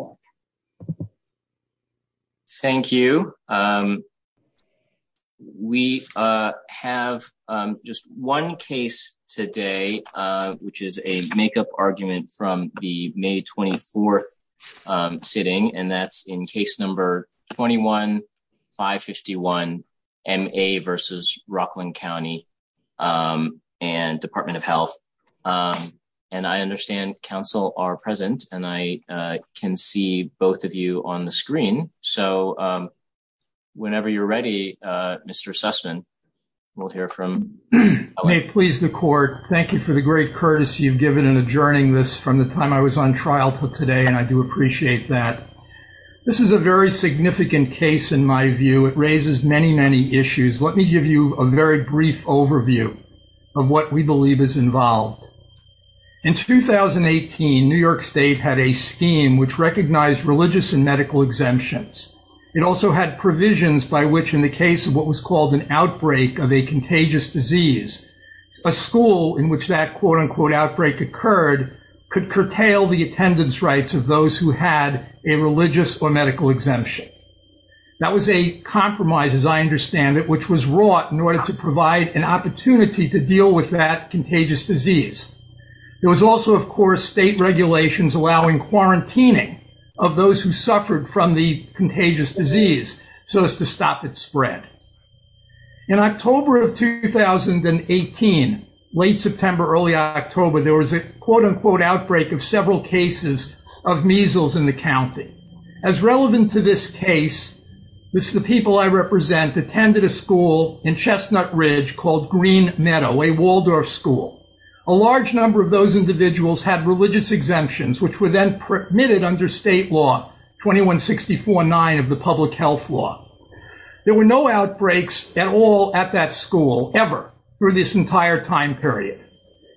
Health. Thank you. We have just one case today, which is a makeup argument from the May 24 sitting, and that's in case number 21-551 M.A. v. Rockland County and Department of Health. And I understand counsel are present, and I can see both of you on the screen, so whenever you're ready, Mr. Sussman, we'll hear from you. May it please the court, thank you for the great courtesy you've given in adjourning this from the time I was on trial to today, and I do appreciate that. This is a very significant case in my view. It raises many, many issues. Let me give you a very brief overview of what we believe is involved. In 2018, New York State had a scheme which recognized religious and medical exemptions. It also had provisions by which, in the case of what was called an outbreak of a contagious disease, a school in which that quote-unquote outbreak occurred could curtail the attendance rights of those who had a religious or medical exemption. That was a compromise, as I understand it, which was wrought in order to provide an opportunity to deal with that contagious disease. There was also, of course, state regulations allowing quarantining of those who suffered from the contagious disease so as to stop its spread. In October of 2018, late September, early October, there was a quote-unquote outbreak of several cases of measles in the county. As relevant to this case, the people I represent attended a school in Chestnut Ridge called Green Meadow, a Waldorf school. A large number of those individuals had religious exemptions, which were then permitted under state law 2164-9 of the public health law. There were no outbreaks at all at that school, ever, through this entire time period.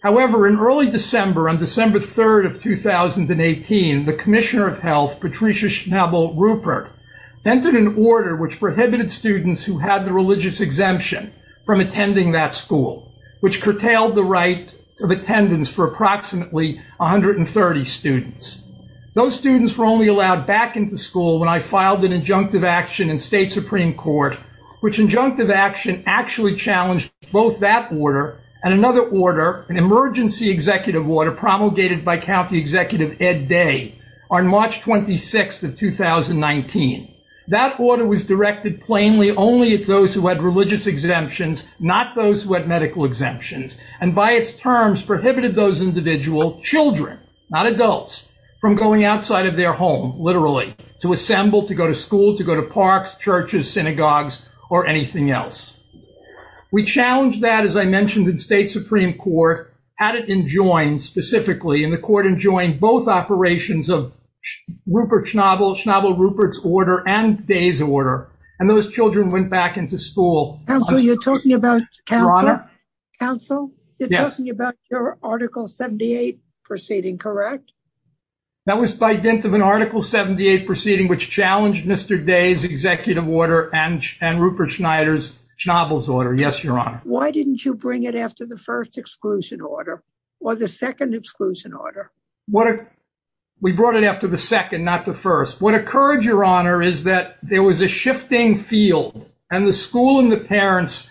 However, in early December, on December 3rd of 2018, the Commissioner of Health, Patricia Schnabel Rupert, entered an order which prohibited students who had the religious exemption from attending that school, which curtailed the right of attendance for approximately 130 students. Those students were only allowed back into school when I filed an injunctive action in state Supreme Court, which injunctive action actually challenged both that order and another order, an emergency executive order promulgated by County Executive Ed Day on March 26th of 2019. That order was directed plainly only at those who had religious exemptions, not those who had medical exemptions, and by its terms prohibited those individual children, not adults, from going outside of their home, literally, to assemble, to go to school, to go to parks, churches, synagogues, or anything else. We challenged that, as I mentioned, in state Supreme Court, had it enjoined specifically, and the court enjoined both operations of Schnabel Rupert's order and Day's order, and those children went back into school. Counsel, you're talking about your Article 78 proceeding, correct? That was by dint of an Article 78 proceeding, which challenged Mr. Day's executive order and Rupert Schnabel's order, yes, Your Honor. Why didn't you bring it after the first exclusion order or the second exclusion order? We brought it after the second, not the first. What occurred, Your Honor, is that there was a shifting field, and the school and the parents,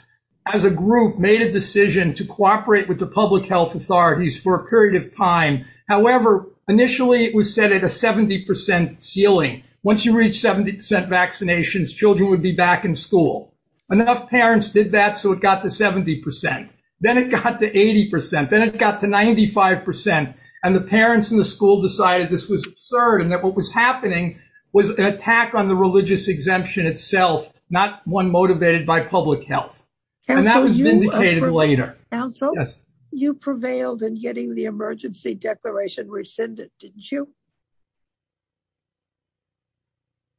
as a group, made a decision to cooperate with the public health authorities for a period of time. However, initially, it was set at a 70 percent ceiling. Once you reach 70 percent vaccinations, children would be back in school. Enough parents did that, so it got to 70 percent. Then it got to 80 percent. Then it got to 95 percent. The parents in the school decided this was absurd and that what was happening was an attack on the religious exemption itself, not one motivated by public health, and that was vindicated later. Counsel, you prevailed in getting the emergency declaration rescinded, didn't you?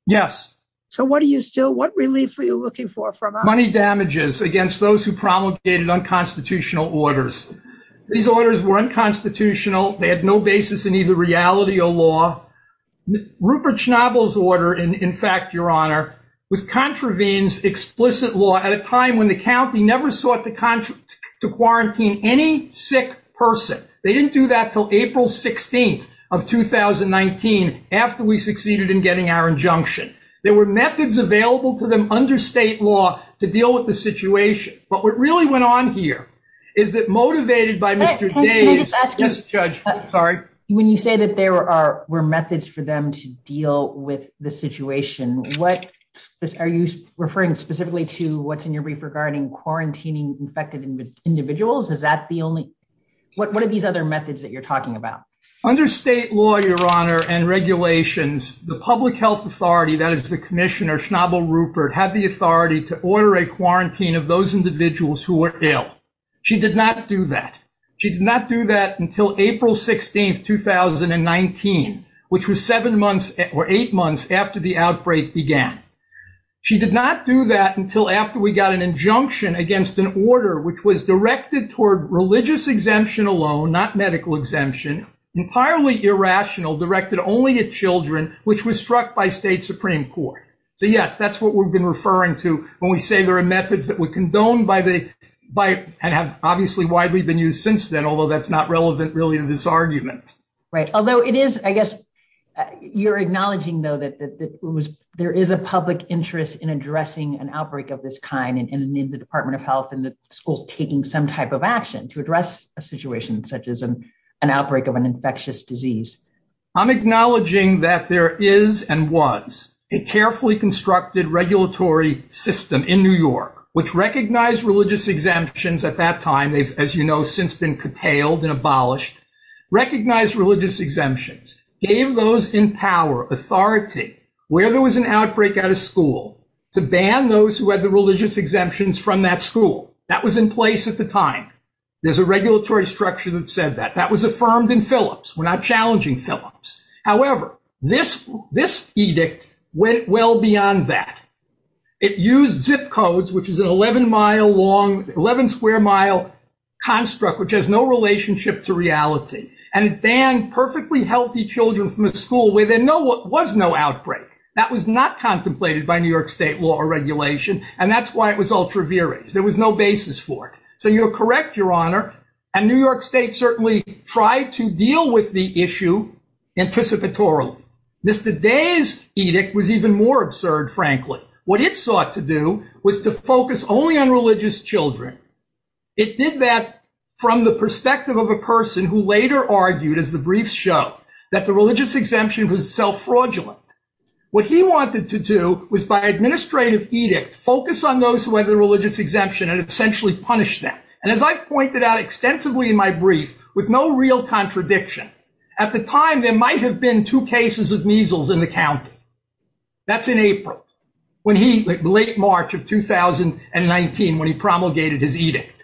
Yes. What relief were you looking for? Money damages against those who promulgated unconstitutional orders. These orders were unconstitutional. They had no basis in either reality or law. Rupert Schnabel's order, in fact, Your Honor, was contravenes explicit law at a time when the county never sought to quarantine any sick person. They didn't do that until April 16th of 2019 after we succeeded in getting our injunction. There were methods available to them under state law to deal with the situation. But what really went on here is that motivated by Mr. Day's judge. Sorry. When you say that there were methods for them to deal with the situation, what are you referring specifically to? What's in your brief regarding quarantining infected individuals? Is that the only one of these other methods that you're talking about under state law, Your Honor, and regulations? The public health authority, that is the commissioner, Schnabel Rupert, had the authority to order a quarantine of those individuals who were ill. She did not do that. She did not do that until April 16th, 2019, which was seven months or eight months after the outbreak began. She did not do that until after we got an injunction against an order which was directed toward religious exemption alone, not medical exemption, entirely irrational, directed only at children, which was struck by state Supreme Court. So, yes, that's what we've been referring to when we say there are methods that were condoned by the by and have obviously widely been used since then, although that's not relevant really to this argument. Right. Although it is, I guess, you're acknowledging, though, that there is a public interest in addressing an outbreak of this kind in the Department of Health and the schools taking some type of action to address a situation such as an outbreak of an infectious disease. I'm acknowledging that there is and was a carefully constructed regulatory system in New York, which recognized religious exemptions at that time. They've, as you know, since been curtailed and abolished, recognized religious exemptions, gave those in power authority where there was an outbreak out of school to ban those who had the religious exemptions from that school. That was in place at the time. There's a regulatory structure that said that that was affirmed in Phillips. We're not challenging Phillips. However, this this edict went well beyond that. It used zip codes, which is an 11 mile long, 11 square mile construct, which has no relationship to reality. And it banned perfectly healthy children from a school where there was no outbreak. That was not contemplated by New York state law or regulation. And that's why it was ultra vires. There was no basis for it. So you're correct, Your Honor. And New York state certainly tried to deal with the issue anticipatorily. Mr. Day's edict was even more absurd, frankly. What it sought to do was to focus only on religious children. It did that from the perspective of a person who later argued, as the briefs show, that the religious exemption was self fraudulent. What he wanted to do was, by administrative edict, focus on those who had the religious exemption and essentially punish them. And as I've pointed out extensively in my brief, with no real contradiction, at the time there might have been two cases of measles in the county. That's in April, late March of 2019, when he promulgated his edict.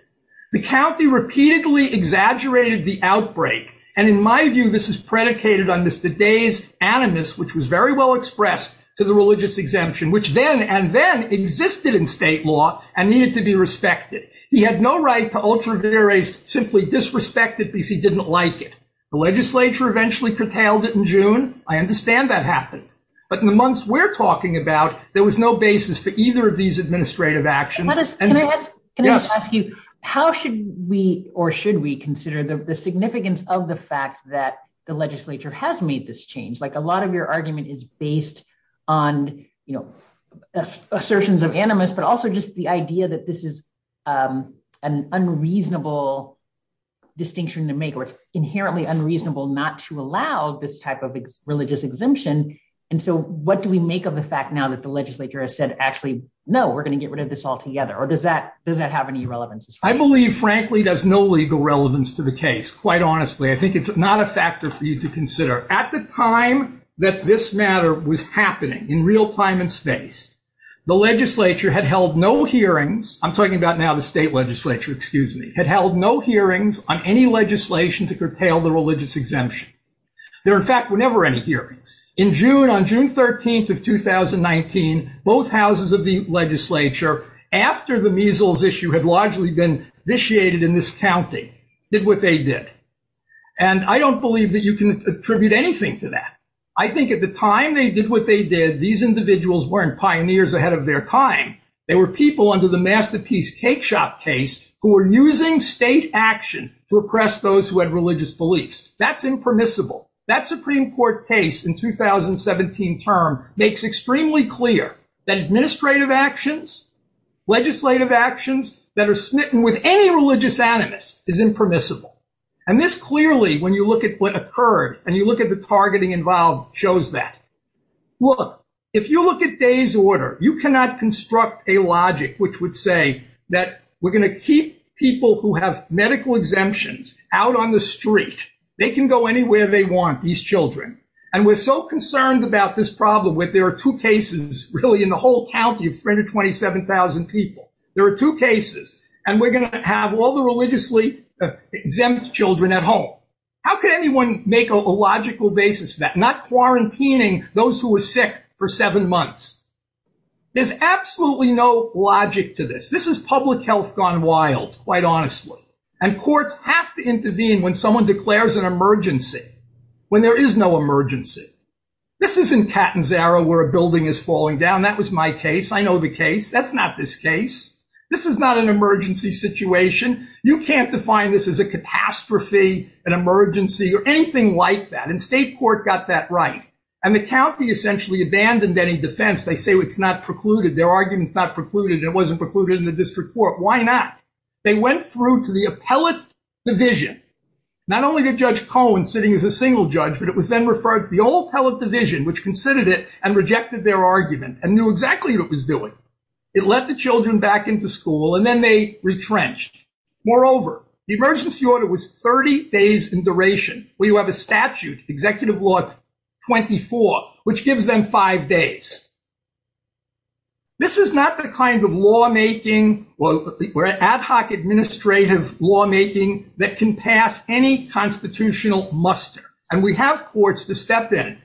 The county repeatedly exaggerated the outbreak. And in my view, this is predicated on Mr. Day's animus, which was very well expressed to the religious exemption, which then and then existed in state law and needed to be respected. He had no right to ultra vires, simply disrespected because he didn't like it. The legislature eventually curtailed it in June. I understand that happened. But in the months we're talking about, there was no basis for either of these administrative actions. Can I just ask you, how should we or should we consider the significance of the fact that the legislature has made this change? Like a lot of your argument is based on, you know, assertions of animus, but also just the idea that this is an unreasonable distinction to make or it's inherently unreasonable not to allow this type of religious exemption. And so what do we make of the fact now that the legislature has said, actually, no, we're going to get rid of this all together? Or does that does that have any relevance? I believe, frankly, does no legal relevance to the case. Quite honestly, I think it's not a factor for you to consider. At the time that this matter was happening in real time and space, the legislature had held no hearings. I'm talking about now the state legislature, excuse me, had held no hearings on any legislation to curtail the religious exemption. There, in fact, were never any hearings. In June, on June 13th of 2019, both houses of the legislature, after the measles issue had largely been vitiated in this county, did what they did. And I don't believe that you can attribute anything to that. I think at the time they did what they did, these individuals weren't pioneers ahead of their time. They were people under the Masterpiece Cakeshop case who were using state action to oppress those who had religious beliefs. That's impermissible. That Supreme Court case in 2017 term makes extremely clear that administrative actions, legislative actions that are smitten with any religious animus is impermissible. And this clearly, when you look at what occurred and you look at the targeting involved, shows that. Look, if you look at day's order, you cannot construct a logic which would say that we're going to keep people who have medical exemptions out on the street. They can go anywhere they want, these children. And we're so concerned about this problem where there are two cases, really, in the whole county of 327,000 people. There are two cases. And we're going to have all the religiously exempt children at home. How can anyone make a logical basis for that? Not quarantining those who are sick for seven months. There's absolutely no logic to this. This is public health gone wild, quite honestly. And courts have to intervene when someone declares an emergency, when there is no emergency. This isn't Catanzaro where a building is falling down. That was my case. I know the case. That's not this case. This is not an emergency situation. You can't define this as a catastrophe, an emergency, or anything like that. And state court got that right. And the county essentially abandoned any defense. They say it's not precluded, their argument's not precluded, and it wasn't precluded in the district court. Why not? They went through to the appellate division, not only to Judge Cohen sitting as a single judge, but it was then referred to the whole appellate division, which considered it and rejected their argument and knew exactly what it was doing. It let the children back into school, and then they retrenched. Moreover, the emergency order was 30 days in duration. We have a statute, Executive Law 24, which gives them five days. This is not the kind of lawmaking or ad hoc administrative lawmaking that can pass any constitutional muster. And we have courts to step in.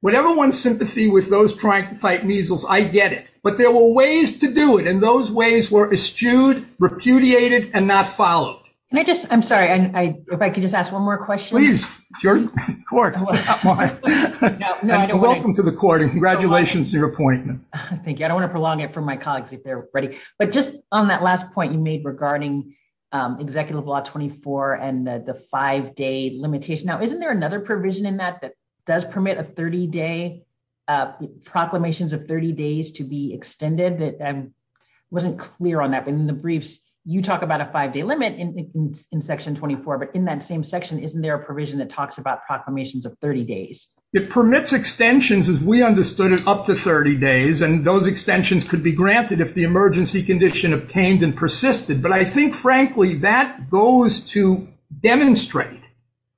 Whatever one's sympathy with those trying to fight measles, I get it. But there were ways to do it, and those ways were eschewed, repudiated, and not followed. Can I just, I'm sorry, if I could just ask one more question? Please. You're in court. Welcome to the court, and congratulations on your appointment. Thank you. I don't want to prolong it for my colleagues if they're ready. But just on that last point you made regarding Executive Law 24 and the five-day limitation. Now, isn't there another provision in that that does permit a 30-day, proclamations of 30 days to be extended? I wasn't clear on that, but in the briefs, you talk about a five-day limit in Section 24. But in that same section, isn't there a provision that talks about proclamations of 30 days? It permits extensions, as we understood it, up to 30 days. And those extensions could be granted if the emergency condition obtained and persisted. But I think, frankly, that goes to demonstrate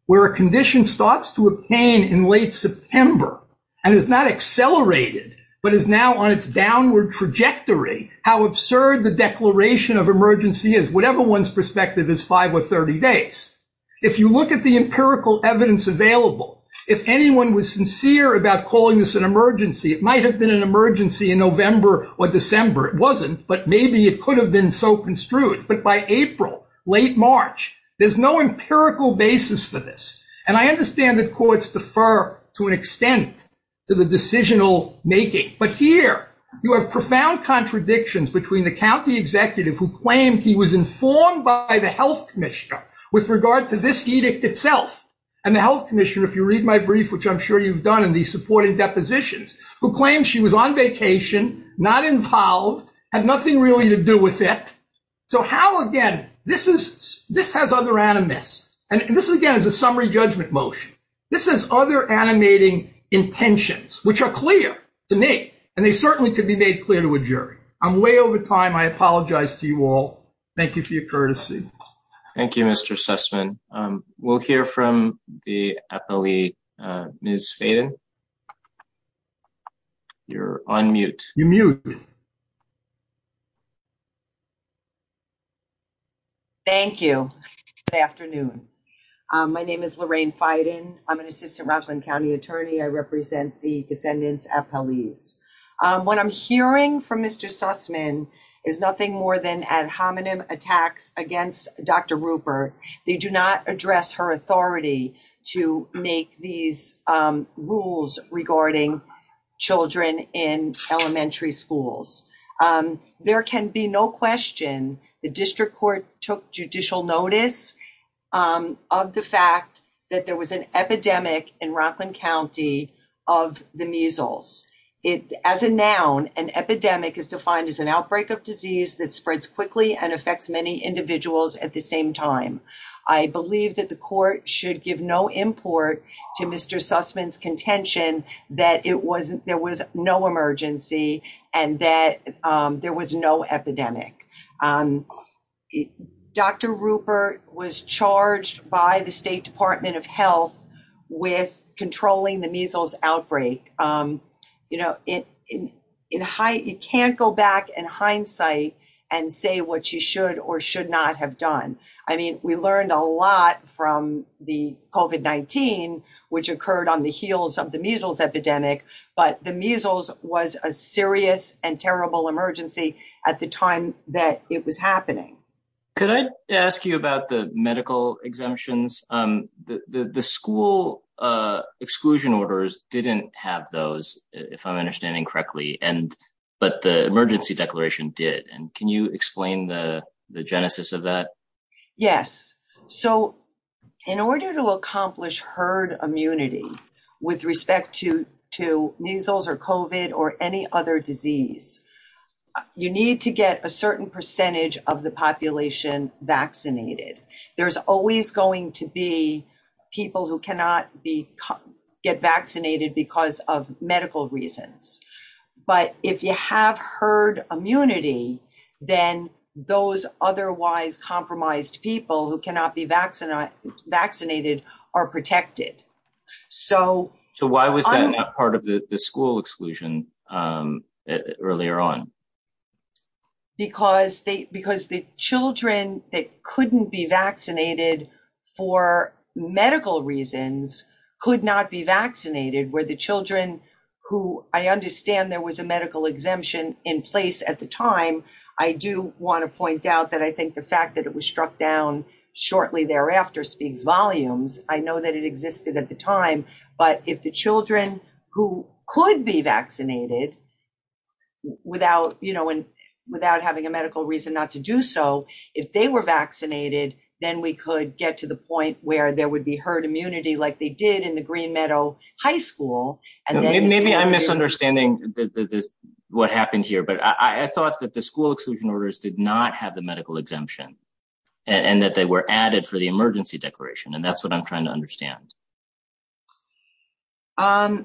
where a condition starts to obtain in late September and is not accelerated but is now on its downward trajectory, how absurd the declaration of emergency is, whatever one's perspective is five or 30 days. If you look at the empirical evidence available, if anyone was sincere about calling this an emergency, it might have been an emergency in November or December. It wasn't, but maybe it could have been so construed. But by April, late March, there's no empirical basis for this. And I understand that courts defer to an extent to the decisional making. But here, you have profound contradictions between the county executive who claimed he was informed by the health commissioner with regard to this edict itself and the health commissioner, if you read my brief, which I'm sure you've done in these supporting depositions, who claimed she was on vacation, not involved, had nothing really to do with it. So how, again, this has other animus. And this, again, is a summary judgment motion. This has other animating intentions, which are clear to me, and they certainly could be made clear to a jury. I'm way over time. I apologize to you all. Thank you for your courtesy. Thank you, Mr. Sussman. We'll hear from the appellee, Ms. Faden. You're on mute. You're muted. Thank you. Good afternoon. My name is Lorraine Faden. I'm an assistant Rockland County attorney. I represent the defendants' appellees. What I'm hearing from Mr. Sussman is nothing more than ad hominem attacks against Dr. Rupert. They do not address her authority to make these rules regarding children in elementary schools. There can be no question the district court took judicial notice. The fact that there was an epidemic in Rockland County of the measles. As a noun, an epidemic is defined as an outbreak of disease that spreads quickly and affects many individuals at the same time. I believe that the court should give no import to Mr. Sussman's contention that there was no emergency and that there was no epidemic. Dr. Rupert was charged by the State Department of Health with controlling the measles outbreak. You know, you can't go back in hindsight and say what she should or should not have done. I mean, we learned a lot from the COVID-19, which occurred on the heels of the measles epidemic. But the measles was a serious and terrible emergency at the time that it was happening. Could I ask you about the medical exemptions? The school exclusion orders didn't have those, if I'm understanding correctly. But the emergency declaration did. And can you explain the genesis of that? Yes. So in order to accomplish herd immunity with respect to measles or COVID or any other disease, you need to get a certain percentage of the population vaccinated. There's always going to be people who cannot get vaccinated because of medical reasons. But if you have herd immunity, then those otherwise compromised people who cannot be vaccinated are protected. So why was that part of the school exclusion earlier on? Because the children that couldn't be vaccinated for medical reasons could not be vaccinated. I understand there was a medical exemption in place at the time. I do want to point out that I think the fact that it was struck down shortly thereafter speaks volumes. I know that it existed at the time. But if the children who could be vaccinated without having a medical reason not to do so, if they were vaccinated, then we could get to the point where there would be herd immunity like they did in the Green Meadow High School. Maybe I'm misunderstanding what happened here, but I thought that the school exclusion orders did not have the medical exemption and that they were added for the emergency declaration. And that's what I'm trying to understand. No,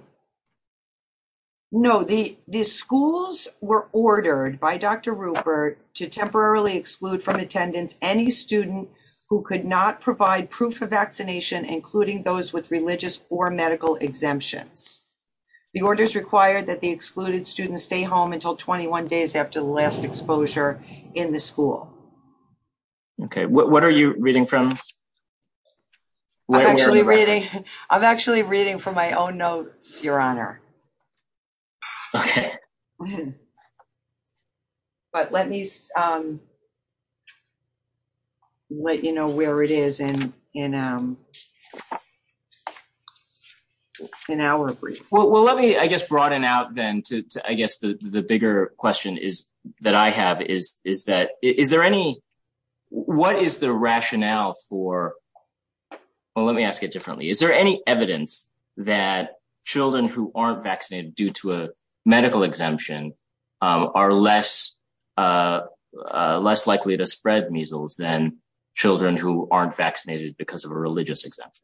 the schools were ordered by Dr. Rupert to temporarily exclude from attendance any student who could not provide proof of vaccination, including those with religious or medical exemptions. The orders required that the excluded students stay home until 21 days after the last exposure in the school. Okay, what are you reading from? I'm actually reading from my own notes, Your Honor. Okay. But let me let you know where it is in an hour brief. Well, let me, I guess, broaden out then to, I guess, the bigger question is that I have is that is there any, what is the rationale for, well, let me ask it differently. Is there any evidence that children who aren't vaccinated due to a medical exemption are less likely to spread measles than children who aren't vaccinated because of a religious exemption?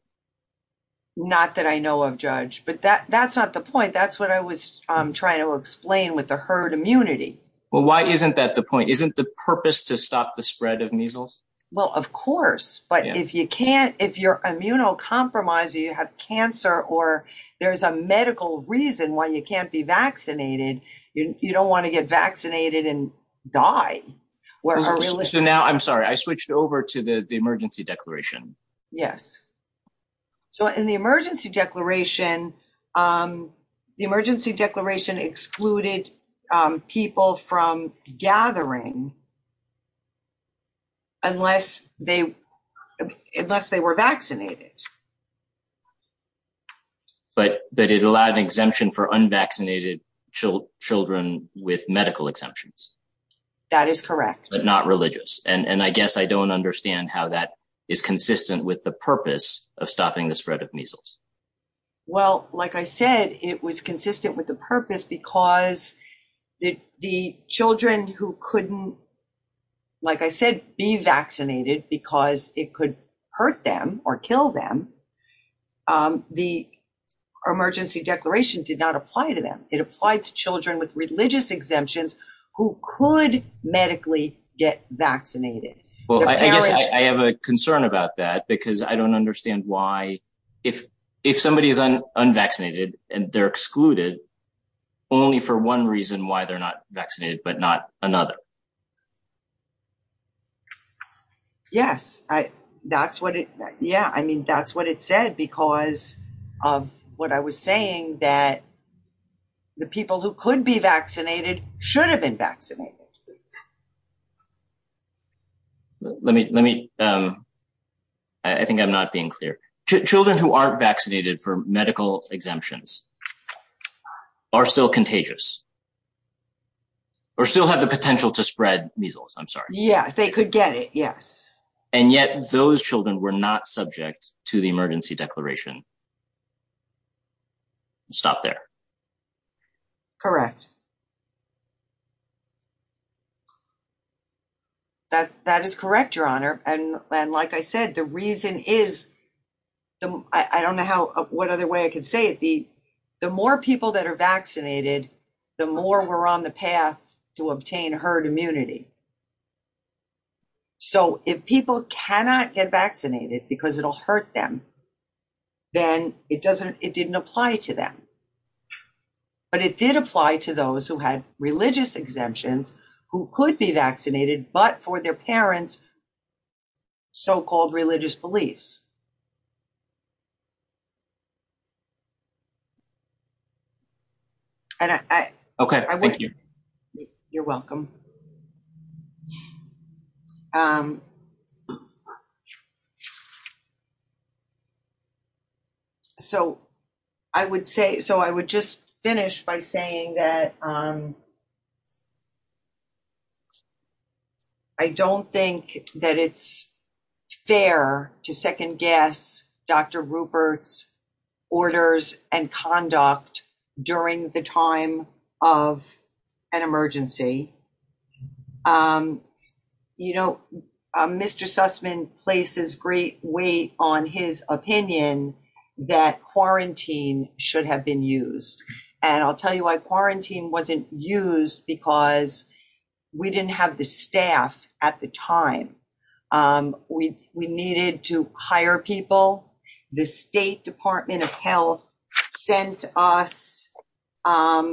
Not that I know of, Judge, but that's not the point. That's what I was trying to explain with the herd immunity. Well, why isn't that the point? Isn't the purpose to stop the spread of measles? Well, of course, but if you can't, if you're immunocompromised, you have cancer or there's a medical reason why you can't be vaccinated, you don't want to get vaccinated and die. So now, I'm sorry, I switched over to the emergency declaration. Yes. So in the emergency declaration, the emergency declaration excluded people from gathering unless they were vaccinated. But it allowed an exemption for unvaccinated children with medical exemptions. That is correct. But not religious. And I guess I don't understand how that is consistent with the purpose of stopping the spread of measles. Well, like I said, it was consistent with the purpose because the children who couldn't, like I said, be vaccinated because it could hurt them or kill them, the emergency declaration did not apply to them. It applied to children with religious exemptions who could medically get vaccinated. Well, I guess I have a concern about that because I don't understand why, if somebody is unvaccinated and they're excluded, only for one reason why they're not vaccinated, but not another. Yes, that's what it, yeah, I mean, that's what it said because of what I was saying that the people who could be vaccinated should have been vaccinated. Let me, let me, I think I'm not being clear. Children who aren't vaccinated for medical exemptions are still contagious or still have the potential to spread measles. I'm sorry. Yeah, they could get it. Yes. And yet those children were not subject to the emergency declaration. Stop there. Correct. That, that is correct, your honor, and like I said, the reason is, I don't know how, what other way I can say it, the, the more people that are vaccinated, the more we're on the path to obtain herd immunity. So, if people cannot get vaccinated, because it'll hurt them, then it doesn't, it didn't apply to them. But it did apply to those who had religious exemptions, who could be vaccinated, but for their parents. So called religious beliefs. Okay, thank you. You're welcome. So, I would say, so I would just finish by saying that I don't think that it's fair to second guess. Dr Rupert's orders and conduct during the time of an emergency. You know, Mr Sussman places great weight on his opinion that quarantine should have been used and I'll tell you why quarantine wasn't used because we didn't have the staff at the time. We needed to hire people. The State Department of Health sent us a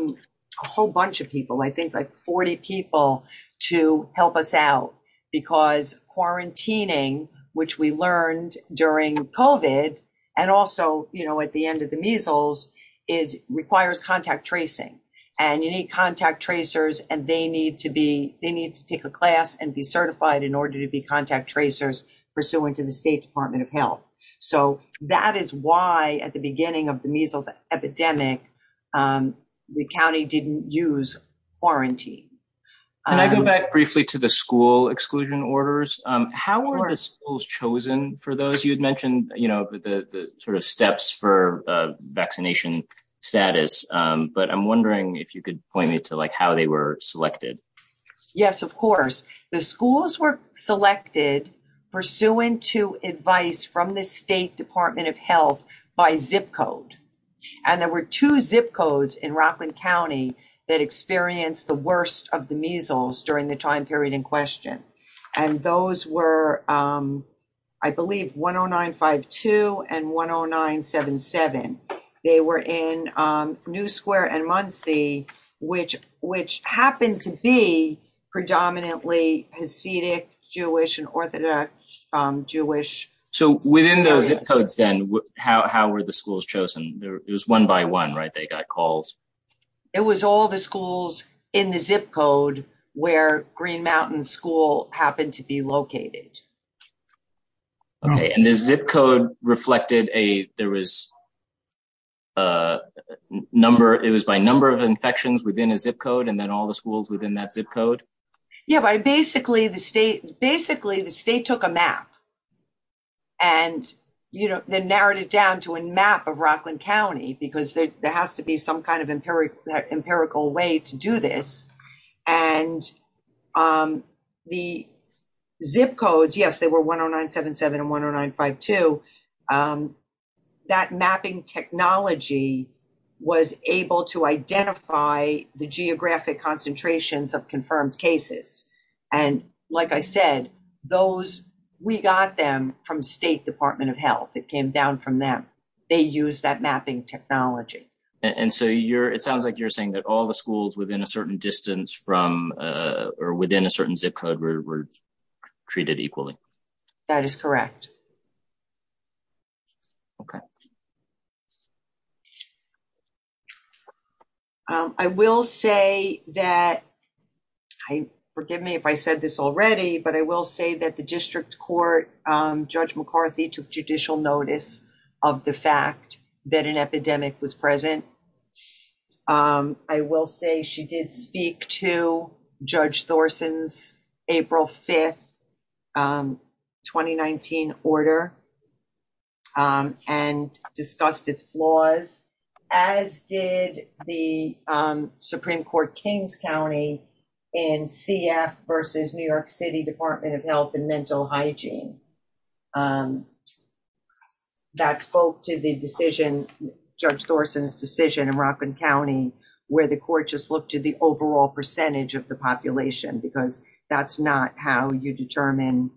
whole bunch of people. I think, like, 40 people to help us out, because quarantining, which we learned during and also, you know, at the end of the measles is requires contact tracing and you need contact tracers. And they need to be, they need to take a class and be certified in order to be contact tracers, pursuant to the State Department of Health. So, that is why at the beginning of the measles epidemic, the county didn't use quarantine. And I go back briefly to the school exclusion orders. How are the schools chosen for those you'd mentioned, you know, the sort of steps for vaccination status, but I'm wondering if you could point me to like how they were selected. Yes, of course, the schools were selected pursuant to advice from the State Department of Health by zip code. And there were two zip codes in Rockland County that experienced the worst of the measles during the time period in question. And those were, I believe, 10952 and 10977. They were in New Square and Muncie, which happened to be predominantly Hasidic Jewish and Orthodox Jewish. So, within those zip codes then, how were the schools chosen? It was one by one, right? They got calls. It was all the schools in the zip code where Green Mountain School happened to be located. Okay, and the zip code reflected a, there was a number, it was by number of infections within a zip code and then all the schools within that zip code? Yeah, but basically the state took a map and, you know, then narrowed it down to a map of Rockland County because there has to be some kind of empirical way to do this. And the zip codes, yes, they were 10977 and 10952. That mapping technology was able to identify the geographic concentrations of confirmed cases. And like I said, those, we got them from State Department of Health. It came down from them. They use that mapping technology. Okay, and so you're, it sounds like you're saying that all the schools within a certain distance from or within a certain zip code were treated equally. That is correct. Okay. I will say that, forgive me if I said this already, but I will say that the district court, Judge McCarthy took judicial notice of the fact that an epidemic was present. I will say she did speak to Judge Thorson's April 5th, 2019 order and discussed its flaws, as did the Supreme Court Kings County and CF versus New York City Department of Health and Mental Hygiene. That spoke to the decision, Judge Thorson's decision in Rockland County, where the court just looked at the overall percentage of the population, because that's not how you determine,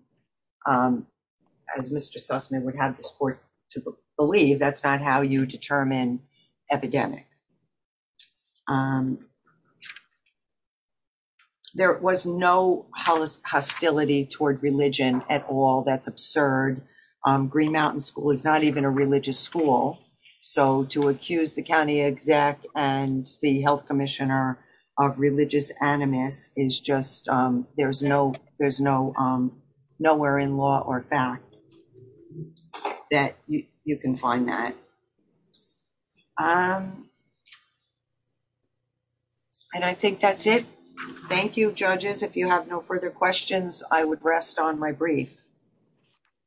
as Mr. Sussman would have this court to believe, that's not how you determine epidemic. There was no hostility toward religion at all. That's absurd. Green Mountain School is not even a religious school. So to accuse the county exec and the health commissioner of religious animus is just, there's no, there's no, nowhere in law or fact that you can find that. And I think that's it. Thank you, judges. If you have no further questions, I would rest on my brief.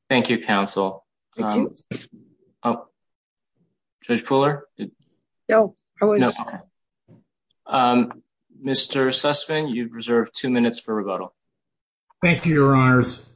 Thank you, counsel. Judge Fuller. No. Mr. Sussman, you reserve two minutes for rebuttal. Thank you, Your Honors.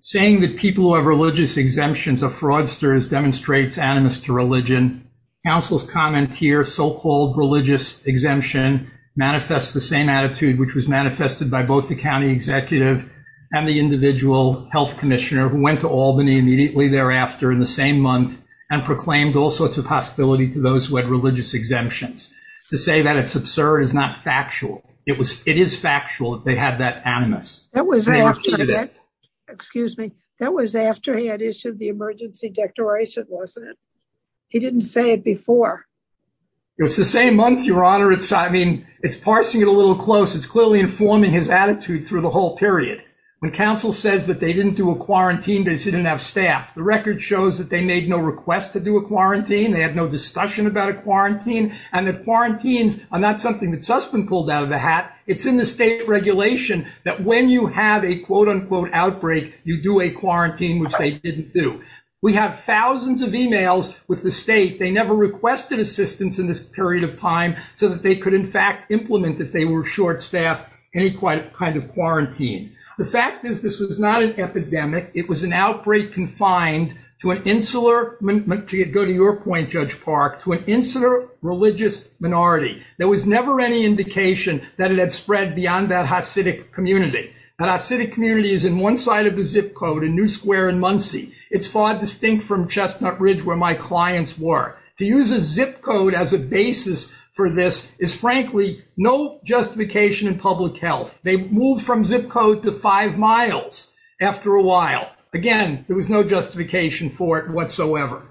Saying that people who have religious exemptions are fraudsters demonstrates animus to religion. Counsel's comment here, so-called religious exemption manifests the same attitude, which was manifested by both the county executive and the individual health commissioner who went to Albany immediately thereafter in the same month and proclaimed all sorts of hostility to those who had religious exemptions. To say that it's absurd is not factual. It was, it is factual that they had that animus. That was after, excuse me, that was after he had issued the emergency declaration, wasn't it? He didn't say it before. It was the same month, Your Honor. It's, I mean, it's parsing it a little close. It's clearly informing his attitude through the whole period. When counsel says that they didn't do a quarantine because he didn't have staff, the record shows that they made no request to do a quarantine. They had no discussion about a quarantine and that quarantines are not something that Sussman pulled out of the hat. It's in the state regulation that when you have a quote unquote outbreak, you do a quarantine, which they didn't do. We have thousands of emails with the state. They never requested assistance in this period of time so that they could in fact implement if they were short staffed, any kind of quarantine. The fact is, this was not an epidemic. It was an outbreak confined to an insular, to go to your point, Judge Park, to an insular religious minority. There was never any indication that it had spread beyond that Hasidic community. That Hasidic community is in one side of the zip code in New Square in Muncie. It's far distinct from Chestnut Ridge where my clients were. To use a zip code as a basis for this is frankly no justification in public health. They moved from zip code to five miles after a while. Again, there was no justification for it whatsoever.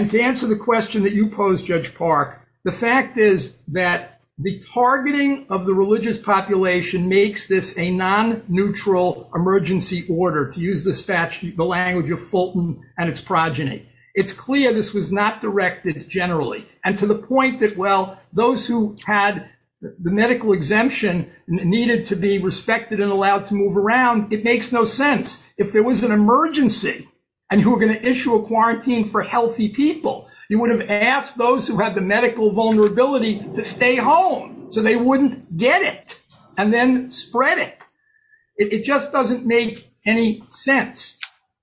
To answer the question that you posed, Judge Park, the fact is that the targeting of the religious population makes this a non-neutral emergency order, to use the language of Fulton and its progeny. It's clear this was not directed generally and to the point that, well, those who had the medical exemption needed to be respected and allowed to move around. It makes no sense. If there was an emergency and you were going to issue a quarantine for healthy people, you would have asked those who had the medical vulnerability to stay home so they wouldn't get it and then spread it. It just doesn't make any sense.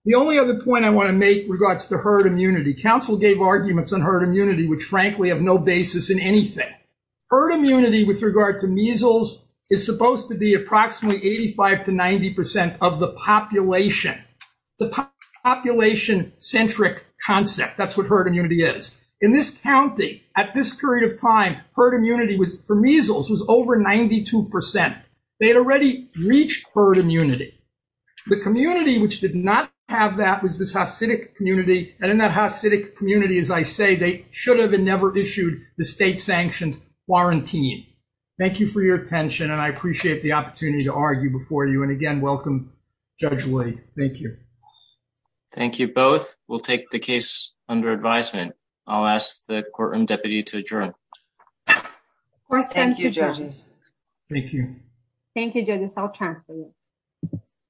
The only other point I want to make regards to herd immunity, council gave arguments on herd immunity, which frankly have no basis in anything. Herd immunity with regard to measles is supposed to be approximately 85 to 90% of the population. It's a population-centric concept. That's what herd immunity is. In this county, at this period of time, herd immunity for measles was over 92%. They had already reached herd immunity. The community which did not have that was this Hasidic community, and in that Hasidic community, as I say, they should have never issued the state-sanctioned quarantine. Thank you for your attention, and I appreciate the opportunity to argue before you, and again, welcome Judge Lee. Thank you. Thank you both. We'll take the case under advisement. I'll ask the courtroom deputy to adjourn. Thank you, judges. Thank you. Thank you, judges. I'll transfer you.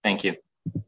Thank you. Thank you.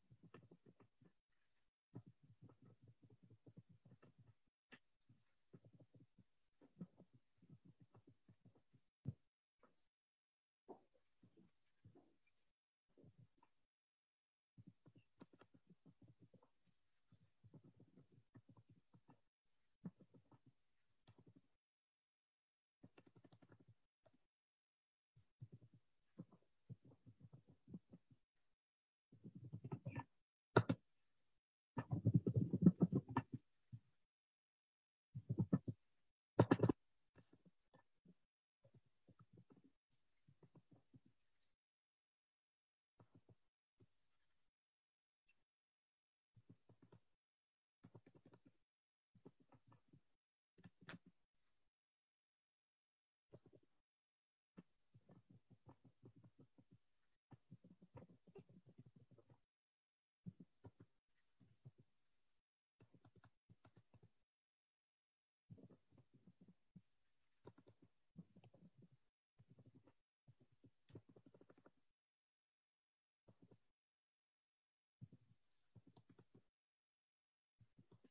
Thank you. Thank you. Thank you. Thank you. Thank you. Thank you.